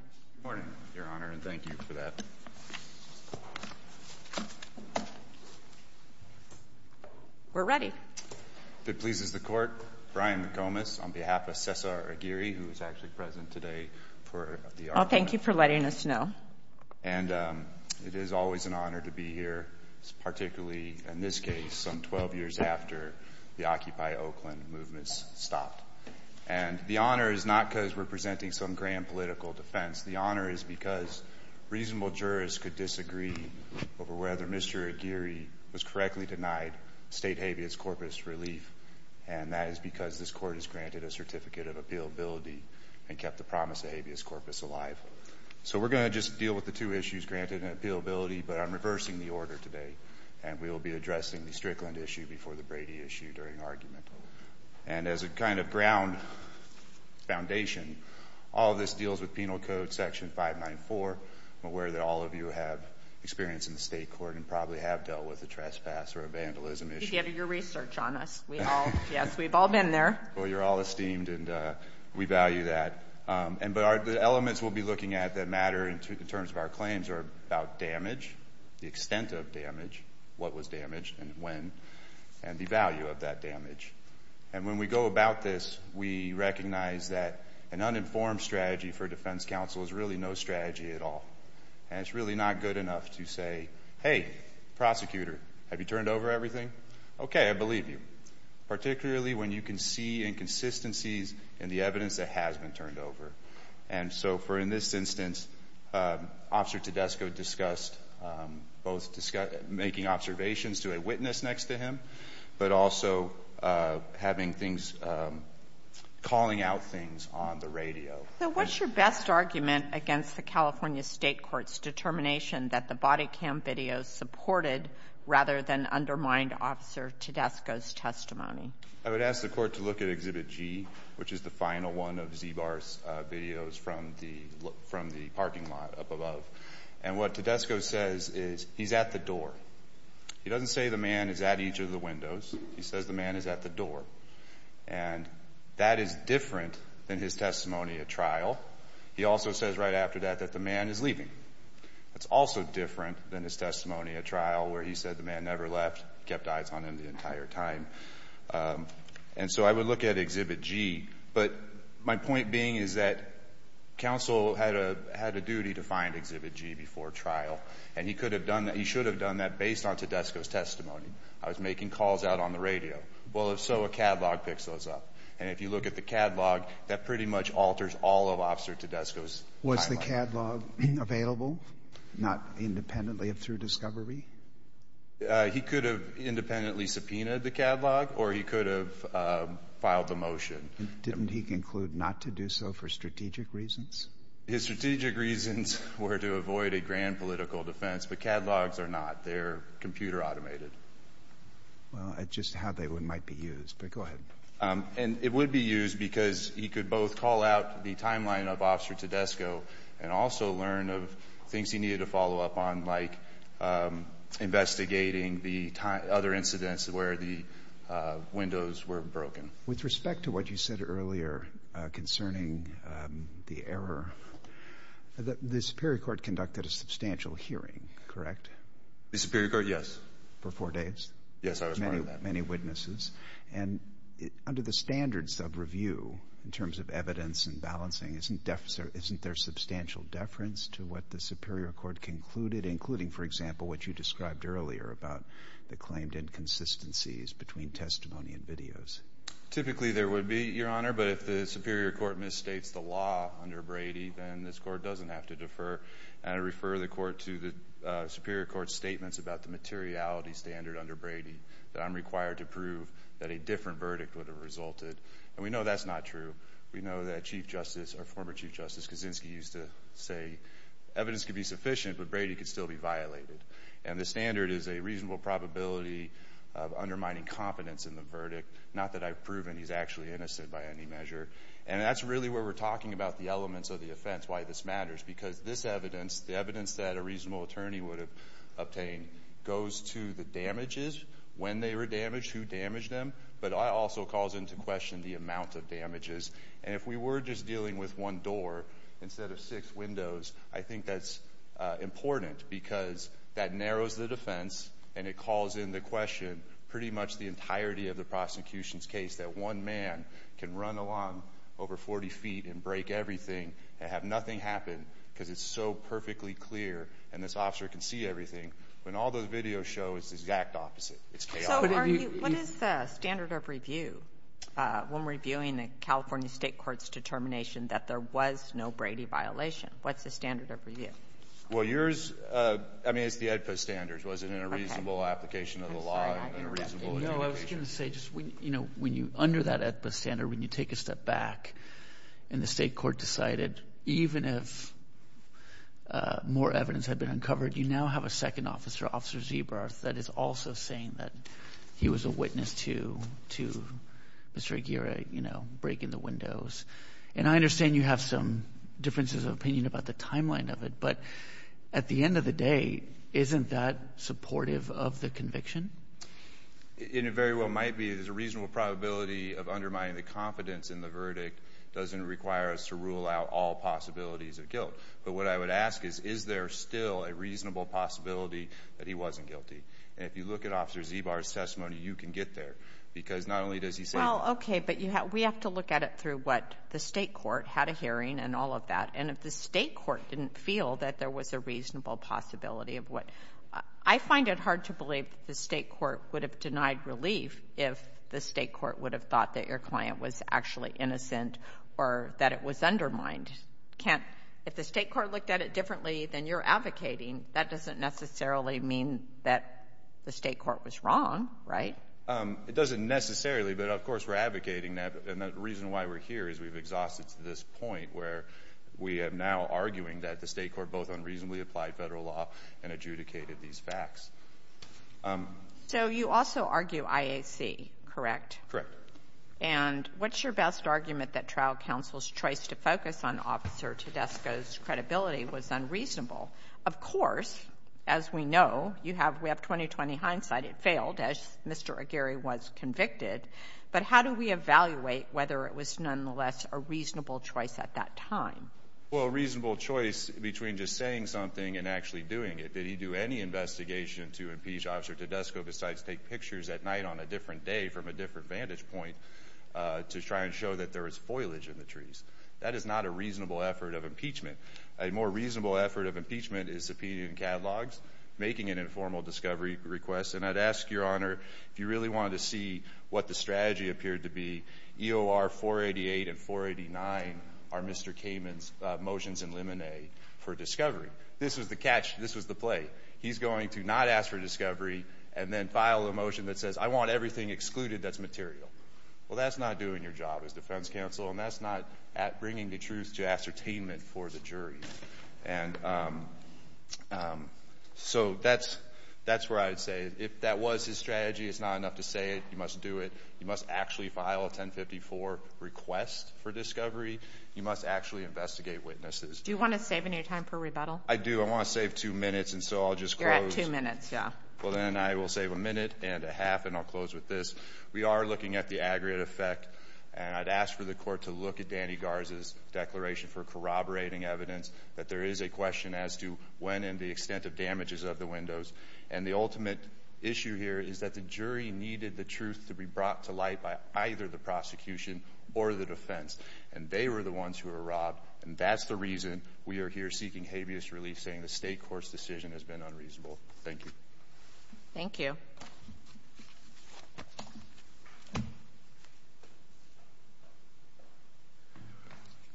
Good morning, Your Honor, and thank you for that. We're ready. If it pleases the court, Brian McComas on behalf of Cesar Aguirre, who is actually present today for the argument. Well, thank you for letting us know. And it is always an honor to be here, particularly in this case, some 12 years after the Occupy Oakland movements stopped. And the honor is not because we're The honor is because reasonable jurors could disagree over whether Mr. Aguirre was correctly denied state habeas corpus relief. And that is because this court has granted a certificate of appealability and kept the promise of habeas corpus alive. So we're going to just deal with the two issues granted in appealability, but I'm reversing the order today. And we'll be addressing the Strickland issue before the Brady issue during argument. And as a kind of ground foundation, all of this deals with penal code section 594. I'm aware that all of you have experience in the state court and probably have dealt with a trespass or a vandalism issue. You've given your research on us. We all, yes, we've all been there. Well, you're all esteemed, and we value that. And the elements we'll be looking at that matter in terms of our claims are about damage, the extent of damage, what was damaged, and when, and the value of that damage. And when we go about this, we recognize that an uninformed strategy for defense counsel is really no strategy at all. And it's really not good enough to say, hey, prosecutor, have you turned over everything? OK, I believe you, particularly when you can see inconsistencies in the evidence that has been turned over. And so for in this instance, Officer Tedesco discussed both making observations to a witness next to him, but also having things, calling out things on the radio. So what's your best argument against the California State Court's determination that the body cam videos supported rather than undermined Officer Tedesco's testimony? I would ask the court to look at Exhibit G, which is the final one of Zbar's videos from the parking lot up above. And what Tedesco says is, he's at the door. He doesn't say the man is at each of the windows. He says the man is at the door. And that is different than his testimony at trial. He also says right after that that the man is leaving. That's also different than his testimony at trial, where he said the man never left, kept eyes on him the entire time. And so I would look at Exhibit G. But my point being is that counsel had a duty to find Exhibit G before trial. And he should have done that based on Tedesco's testimony. I was making calls out on the radio. Well, if so, a catalog picks those up. And if you look at the catalog, that pretty much alters all of Officer Tedesco's catalog. Was the catalog available, not independently of through discovery? He could have independently subpoenaed the catalog, or he could have filed a motion. Didn't he conclude not to do so for strategic reasons? His strategic reasons were to avoid a grand political defense. But catalogs are not. They're computer automated. Well, just how they might be used. But go ahead. And it would be used because he could both call out the timeline of Officer Tedesco and also learn of things he needed to follow up on, like investigating the other incidents where the windows were broken. With respect to what you said earlier concerning the error, the Superior Court conducted a substantial hearing, correct? The Superior Court, yes. For four days? Yes, I was part of that. Many witnesses. And under the standards of review, in terms of evidence and balancing, isn't there substantial deference to what the Superior Court concluded, including, for example, what you described earlier about the claimed inconsistencies between testimony and videos? Typically, there would be, Your Honor. But if the Superior Court misstates the law under Brady, then this court doesn't have to defer and refer the court to the Superior Court's statements about the materiality standard under Brady, that I'm required to prove that a different verdict would have resulted. And we know that's not true. We know that Chief Justice, or former Chief Justice Kaczynski used to say, evidence could be sufficient, but Brady could still be violated. And the standard is a reasonable probability of undermining confidence in the verdict, not that I've proven he's actually innocent by any measure. And that's really where we're talking about the elements of the offense, why this matters. Because this evidence, the evidence that a reasonable attorney would have obtained, goes to the damages, when they were damaged, who damaged them. But it also calls into question the amount of damages. And if we were just dealing with one door instead of six windows, I think that's important, because that narrows the defense. And it calls into question pretty much the entirety of the prosecution's case, that one man can run along over 40 feet and break everything and have nothing happen, because it's so perfectly clear. And this officer can see everything. When all those videos show, it's the exact opposite. It's chaotic. What is the standard of review when reviewing a California state court's determination that there was no Brady violation? What's the standard of review? Well, yours, I mean, it's the AEDPA standards. Was it in a reasonable application of the law? I'm sorry, I didn't understand. No, I was going to say, under that AEDPA standard, when you take a step back and the state court decided, even if more evidence had been uncovered, you now have a second officer, Officer Zeebroth, that is also saying that he was a witness to Mr. Aguirre breaking the windows. And I understand you have some differences of opinion about the timeline of it. But at the end of the day, isn't that supportive of the conviction? It very well might be. There's a reasonable probability of undermining the confidence in the verdict. Doesn't require us to rule out all possibilities of guilt. But what I would ask is, is there still a reasonable possibility that he wasn't guilty? And if you look at Officer Zeebar's testimony, you can get there. Because not only does he say that. Well, OK, but we have to look at it through what the state court had a hearing and all of that. And if the state court didn't feel that there was a reasonable possibility of what, I find it hard to believe that the state court would have denied relief if the state court would have thought that your client was actually innocent or that it was undermined. If the state court looked at it differently than you're advocating, that doesn't necessarily mean that the state court was wrong, right? It doesn't necessarily. But of course, we're advocating that. And the reason why we're here is we've exhausted to this point where we are now arguing that the state court both unreasonably applied federal law and adjudicated these facts. So you also argue IAC, correct? Correct. And what's your best argument that trial counsel's choice to focus on Officer Tedesco's credibility was unreasonable? Of course, as we know, you have we have 20-20 hindsight. It failed, as Mr. Aguirre was convicted. But how do we evaluate whether it was nonetheless a reasonable choice at that time? Well, a reasonable choice between just saying something and actually doing it. Did he do any investigation to impeach Officer Tedesco besides take pictures at night on a different day from a different vantage point to try and show that there was foliage in the trees? That is not a reasonable effort of impeachment. A more reasonable effort of impeachment is subpoenaing catalogs, making an informal discovery request. And I'd ask, Your Honor, if you really wanted to see what the strategy appeared to be, EOR 488 and 489 are Mr. Kamen's motions in limine for discovery. This was the catch. This was the play. He's going to not ask for discovery and then file a motion that says, I want everything excluded that's material. Well, that's not doing your job as defense counsel, and that's not bringing the truth to ascertainment for the jury. And so that's where I'd say, if that was his strategy, it's not enough to say it. You must do it. You must actually file a 1054 request for discovery. You must actually investigate witnesses. Do you want to save any time for rebuttal? I do. I want to save two minutes, and so I'll just close. You're at two minutes, yeah. Well, then I will save a minute and a half, and I'll close with this. We are looking at the aggregate effect, and I'd ask for the court to look at Danny Garza's declaration for corroborating evidence, that there is a question as to when and the extent of damages of the windows. And the ultimate issue here is that the jury needed the truth to be brought to light by either the prosecution or the defense, and they were the ones who were robbed. And that's the reason we are here seeking habeas relief, saying the state court's decision has been unreasonable. Thank you. Thank you.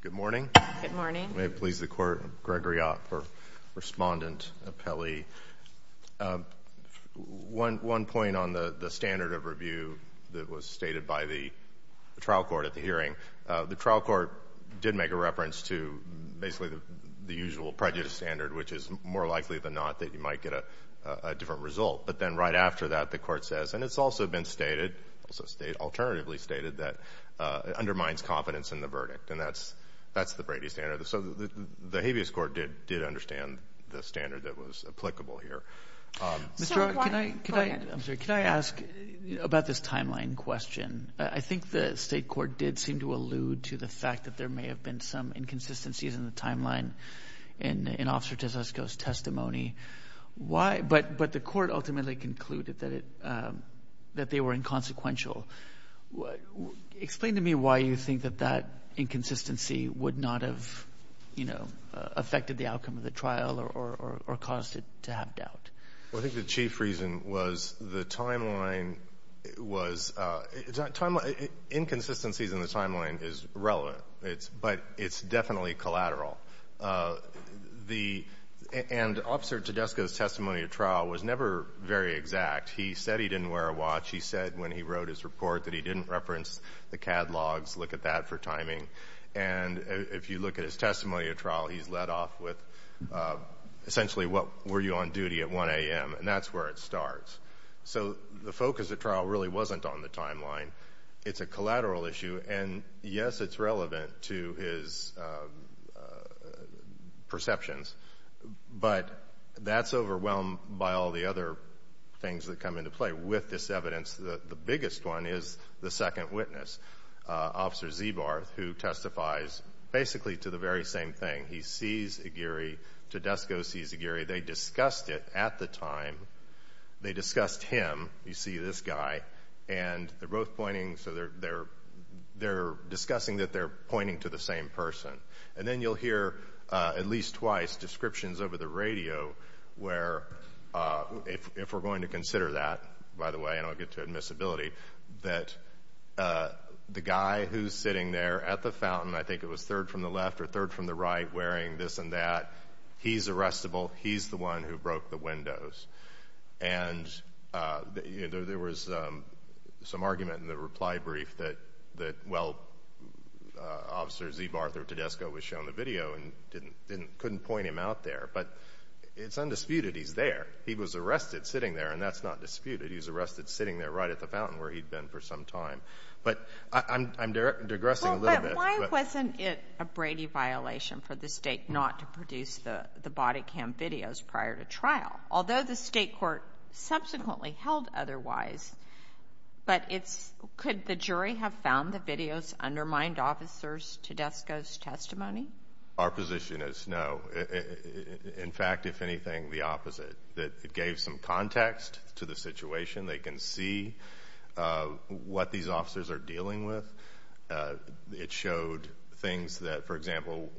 Good morning. Good morning. May it please the court, Gregory Ott for respondent appellee. One point on the standard of review that was stated by the trial court at the hearing. The trial court did make a reference to basically the usual prejudice standard, which is more likely than not that you might get a different result. But then right after that, the court says, and it's also been stated, alternatively stated, that it undermines confidence in the verdict. And that's the Brady standard. So the habeas court did understand the standard that was applicable here. Mr. Ott, can I ask about this timeline question? I think the state court did seem to allude to the fact that there may have been some inconsistencies in the timeline in Officer Tesesco's testimony. But the court ultimately concluded that they were inconsequential. Explain to me why you think that that inconsistency would not have affected the outcome of the trial or caused it to have doubt. Well, I think the chief reason was the timeline was, inconsistencies in the timeline is relevant. But it's definitely collateral. And Officer Tesesco's testimony of trial was never very exact. He said he didn't wear a watch. He said when he wrote his report that he didn't reference the catalogs. Look at that for timing. And if you look at his testimony of trial, he's led off with, essentially, what were you on duty at 1 AM? And that's where it starts. So the focus of trial really wasn't on the timeline. It's a collateral issue. And yes, it's relevant to his perceptions. But that's overwhelmed by all the other things that come into play. With this evidence, the biggest one is the second witness, Officer Zebarth, who testifies basically to the very same thing. He sees Aguirre. Tesesco sees Aguirre. They discussed it at the time. They discussed him. You see this guy. And they're both pointing. So they're discussing that they're pointing to the same person. And then you'll hear, at least twice, descriptions over the radio where, if we're going to consider that, by the way, and I'll get to admissibility, that the guy who's sitting there at the fountain, I think it was third from the left or third from the right, wearing this and that, he's arrestable. He's the one who broke the windows. And there was some argument in the reply brief that, well, Officer Zebarth or Tedesco was shown the video and couldn't point him out there. But it's undisputed he's there. He was arrested sitting there. And that's not disputed. He was arrested sitting there right at the fountain where he'd been for some time. But I'm digressing a little bit. But why wasn't it a Brady violation for the state not to produce the body cam videos prior to trial? Although the state court subsequently held otherwise, but could the jury have found the videos undermined officers' Tedesco's testimony? Our position is no. In fact, if anything, the opposite, that it gave some context to the situation. They can see what these officers are dealing with. It showed things that, for example,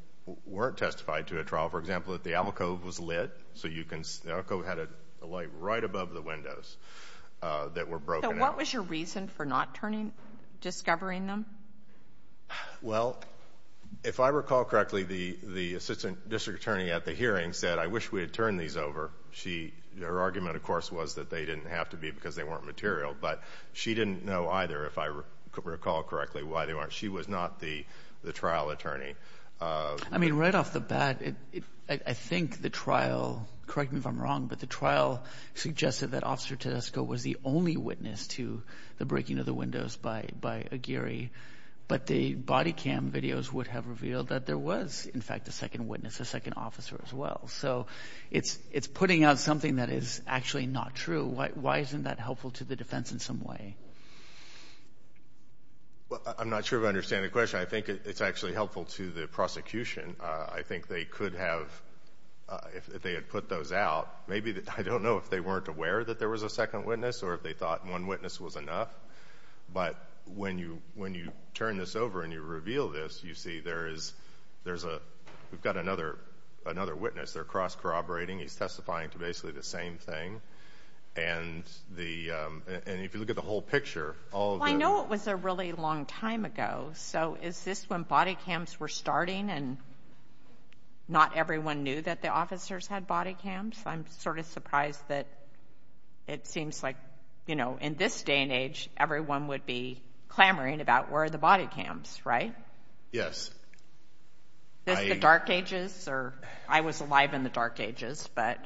weren't testified to at trial. For example, that the albacove was lit. The albacove had a light right above the windows that were broken out. So what was your reason for not discovering them? Well, if I recall correctly, the assistant district attorney at the hearing said, I wish we had turned these over. Her argument, of course, was that they didn't have to be because they weren't material. But she didn't know either, if I recall correctly, why they weren't. She was not the trial attorney. I mean, right off the bat, I think the trial, correct me if I'm wrong, but the trial suggested that Officer Tedesco was the only witness to the breaking of the windows by Aguirre. But the body cam videos would have revealed that there was, in fact, a second witness, a second officer as well. So it's putting out something that is actually not true. Why isn't that helpful to the defense in some way? I'm not sure if I understand the question. I think it's actually helpful to the prosecution. I think they could have, if they had put those out, maybe, I don't know if they weren't aware that there was a second witness or if they thought one witness was enough. But when you turn this over and you reveal this, you see we've got another witness. They're cross-corroborating. He's testifying to basically the same thing. And if you look at the whole picture, all of the- Well, I know it was a really long time ago. So is this when body cams were starting and not everyone knew that the officers had body cams? I'm sort of surprised that it seems like, you know, in this day and age, everyone would be clamoring about where are the body cams, right? Yes. Is this the dark ages or- I was alive in the dark ages, but-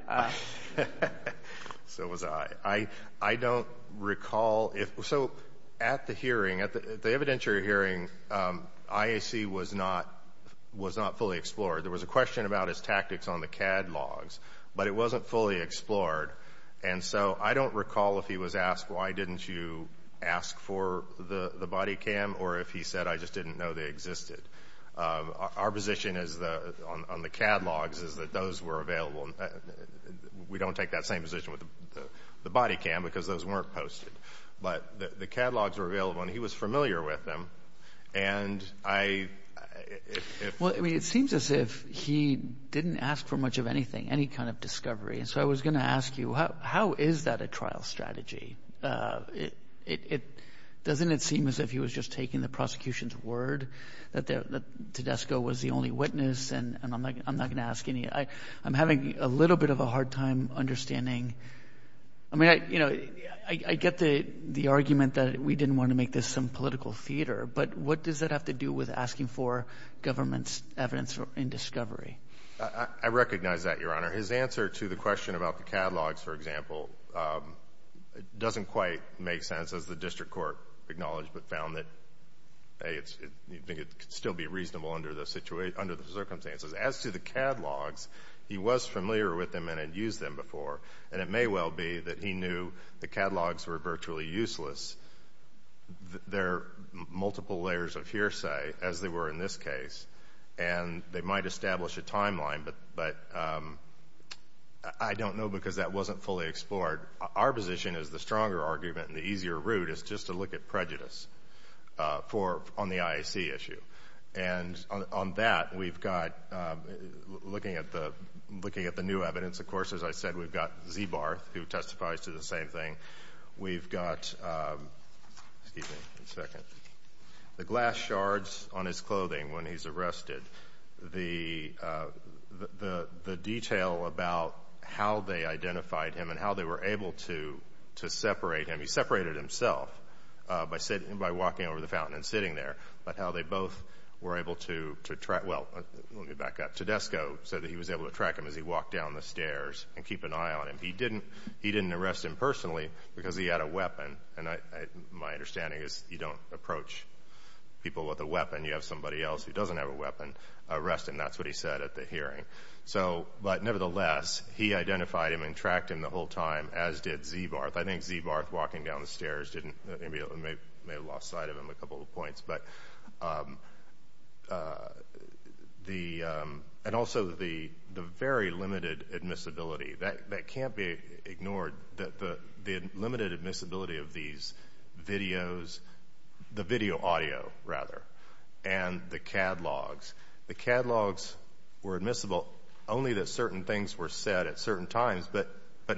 So was I. I don't recall if- At the hearing, at the evidentiary hearing, IAC was not fully explored. There was a question about his tactics on the cad logs, but it wasn't fully explored. And so I don't recall if he was asked, why didn't you ask for the body cam? Or if he said, I just didn't know they existed. Our position is on the cad logs is that those were available. We don't take that same position with the body cam because those weren't posted. But the cad logs were available and he was familiar with them. And I- Well, I mean, it seems as if he didn't ask for much of anything, any kind of discovery. And so I was going to ask you, how is that a trial strategy? Doesn't it seem as if he was just taking the prosecution's word that Tedesco was the only witness? And I'm not going to ask any. I'm having a little bit of a hard time understanding. I mean, I get the argument that we didn't want to make this some political theater, but what does that have to do with asking for government's evidence in discovery? I recognize that, Your Honor. His answer to the question about the cad logs, for example, doesn't quite make sense as the district court acknowledged, but found that, hey, you think it could still be reasonable under the circumstances. As to the cad logs, he was familiar with them and had used them before. It may well be that he knew the cad logs were virtually useless. They're multiple layers of hearsay, as they were in this case. And they might establish a timeline, but I don't know because that wasn't fully explored. Our position is the stronger argument and the easier route is just to look at prejudice on the IAC issue. And on that, we've got, looking at the new evidence, of course, as I said, we've got Zeebarth, who testifies to the same thing. We've got, excuse me a second, the glass shards on his clothing when he's arrested, the detail about how they identified him and how they were able to separate him. He separated himself by walking over the fountain and sitting there, but how they both were able to track, well, let me back up. Tedesco said that he was able to track him as he walked down the stairs and keep an eye on him. He didn't arrest him personally because he had a weapon. And my understanding is you don't approach people with a weapon. You have somebody else who doesn't have a weapon arrest him. That's what he said at the hearing. So, but nevertheless, he identified him and tracked him the whole time, as did Zeebarth. I think Zeebarth walking down the stairs didn't, may have lost sight of him a couple of points. But the, and also the very limited admissibility, that can't be ignored that the limited admissibility of these videos, the video audio rather, and the catalogs, the catalogs were admissible only that certain things were said at certain times, but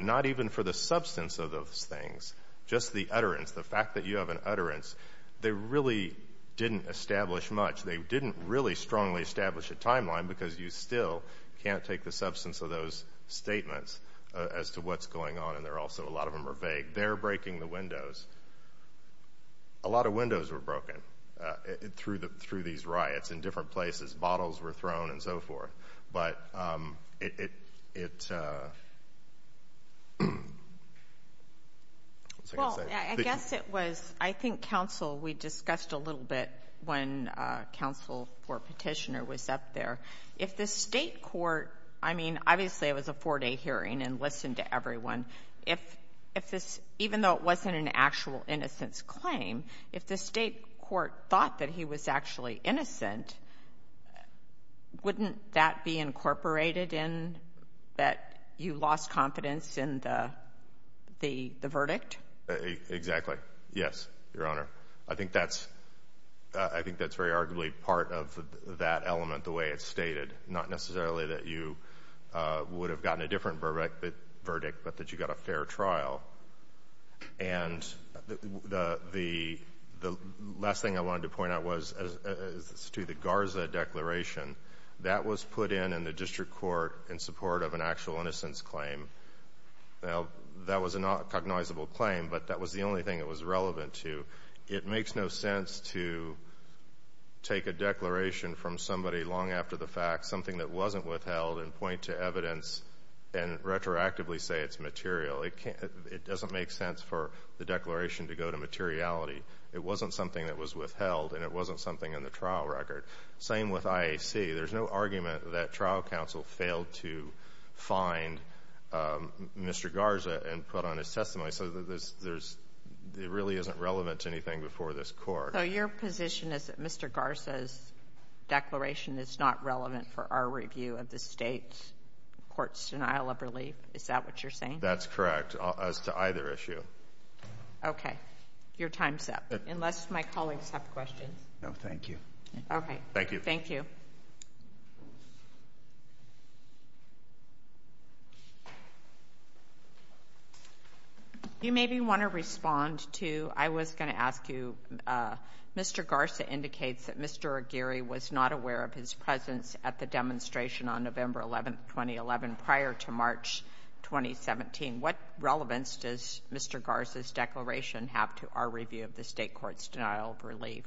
not even for the substance of those things. Just the utterance, the fact that you have an utterance, they really didn't establish much. They didn't really strongly establish a timeline because you still can't take the substance of those statements as to what's going on. And they're also, a lot of them are vague. They're breaking the windows. A lot of windows were broken through these riots in different places. But it, what was I going to say? Well, I guess it was, I think counsel, we discussed a little bit when counsel for petitioner was up there. If the state court, I mean, obviously it was a four-day hearing and listened to everyone. If this, even though it wasn't an actual innocence claim, if the state court thought that he was actually innocent, wouldn't that be incorporated in that you lost confidence in the verdict? Exactly. Yes, Your Honor. I think that's, I think that's very arguably part of that element, the way it's stated. Not necessarily that you would have gotten a different verdict, but that you got a fair trial. And the last thing I wanted to point out was as to the Garza declaration, that was put in in the district court in support of an actual innocence claim. Now, that was a not cognizable claim, but that was the only thing it was relevant to. It makes no sense to take a declaration from somebody long after the fact, something that wasn't withheld, and point to evidence and retroactively say it's material. It can't, it doesn't make sense for the declaration to go to materiality. It wasn't something that was withheld, and it wasn't something in the trial record. Same with IAC. There's no argument that trial counsel failed to find Mr. Garza and put on his testimony. So there's, it really isn't relevant to anything before this court. So your position is that Mr. Garza's declaration is not relevant for our review of the state court's denial of relief? Is that what you're saying? That's correct, as to either issue. Okay, your time's up. Unless my colleagues have questions. No, thank you. Okay. Thank you. Thank you. Thank you. You maybe want to respond to, I was going to ask you, Mr. Garza indicates that Mr. Aguirre was not aware of his presence at the demonstration on November 11, 2011, prior to March 2017. What relevance does Mr. Garza's declaration have to our review of the state court's denial of relief?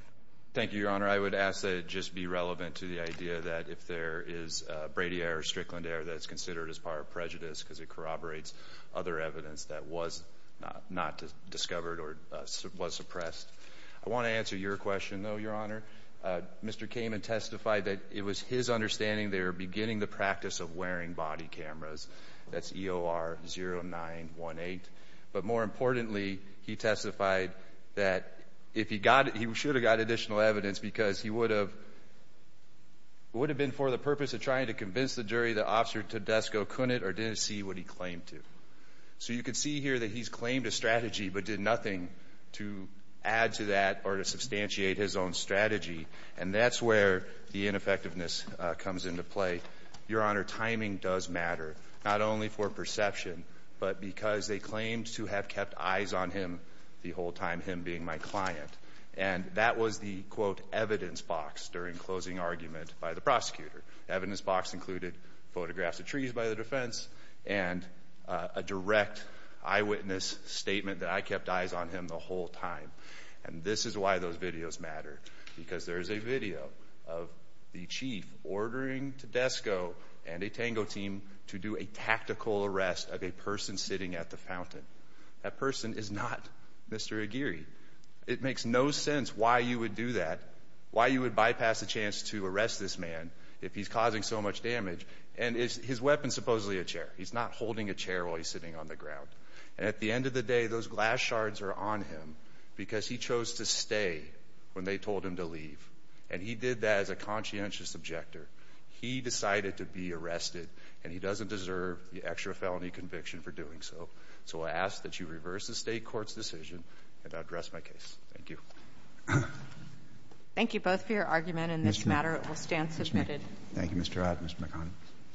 Thank you, Your Honor. I would ask that it just be relevant to the idea that if there is Brady error, Strickland error that's considered as part of prejudice because it corroborates other evidence that was not discovered or was suppressed. I want to answer your question though, Your Honor. Mr. Kamen testified that it was his understanding they were beginning the practice of wearing body cameras. That's EOR 0918. But more importantly, he testified that if he got it, he should have got additional evidence because he would have been for the purpose of trying to convince the jury that Officer Tedesco couldn't or didn't see what he claimed to. So you can see here that he's claimed a strategy but did nothing to add to that or to substantiate his own strategy. And that's where the ineffectiveness comes into play. Your Honor, timing does matter, not only for perception, but because they claimed to have kept eyes on him the whole time, him being my client. And that was the, quote, evidence box during closing argument by the prosecutor. Evidence box included photographs of trees by the defense and a direct eyewitness statement that I kept eyes on him the whole time. And this is why those videos matter. Because there is a video of the chief ordering Tedesco and a Tango team to do a tactical arrest of a person sitting at the fountain. That person is not Mr. Aguirre. It makes no sense why you would do that, why you would bypass a chance to arrest this man if he's causing so much damage. And his weapon is supposedly a chair. He's not holding a chair while he's sitting on the ground. And at the end of the day, those glass shards are on him because he chose to stay when they told him to leave. And he did that as a conscientious objector. He decided to be arrested and he doesn't deserve the extra felony conviction for doing so. So I ask that you reverse the state court's decision and address my case. Thank you. Thank you both for your argument in this matter. It will stand submitted. Thank you, Mr. Ott and Mr. McConnell.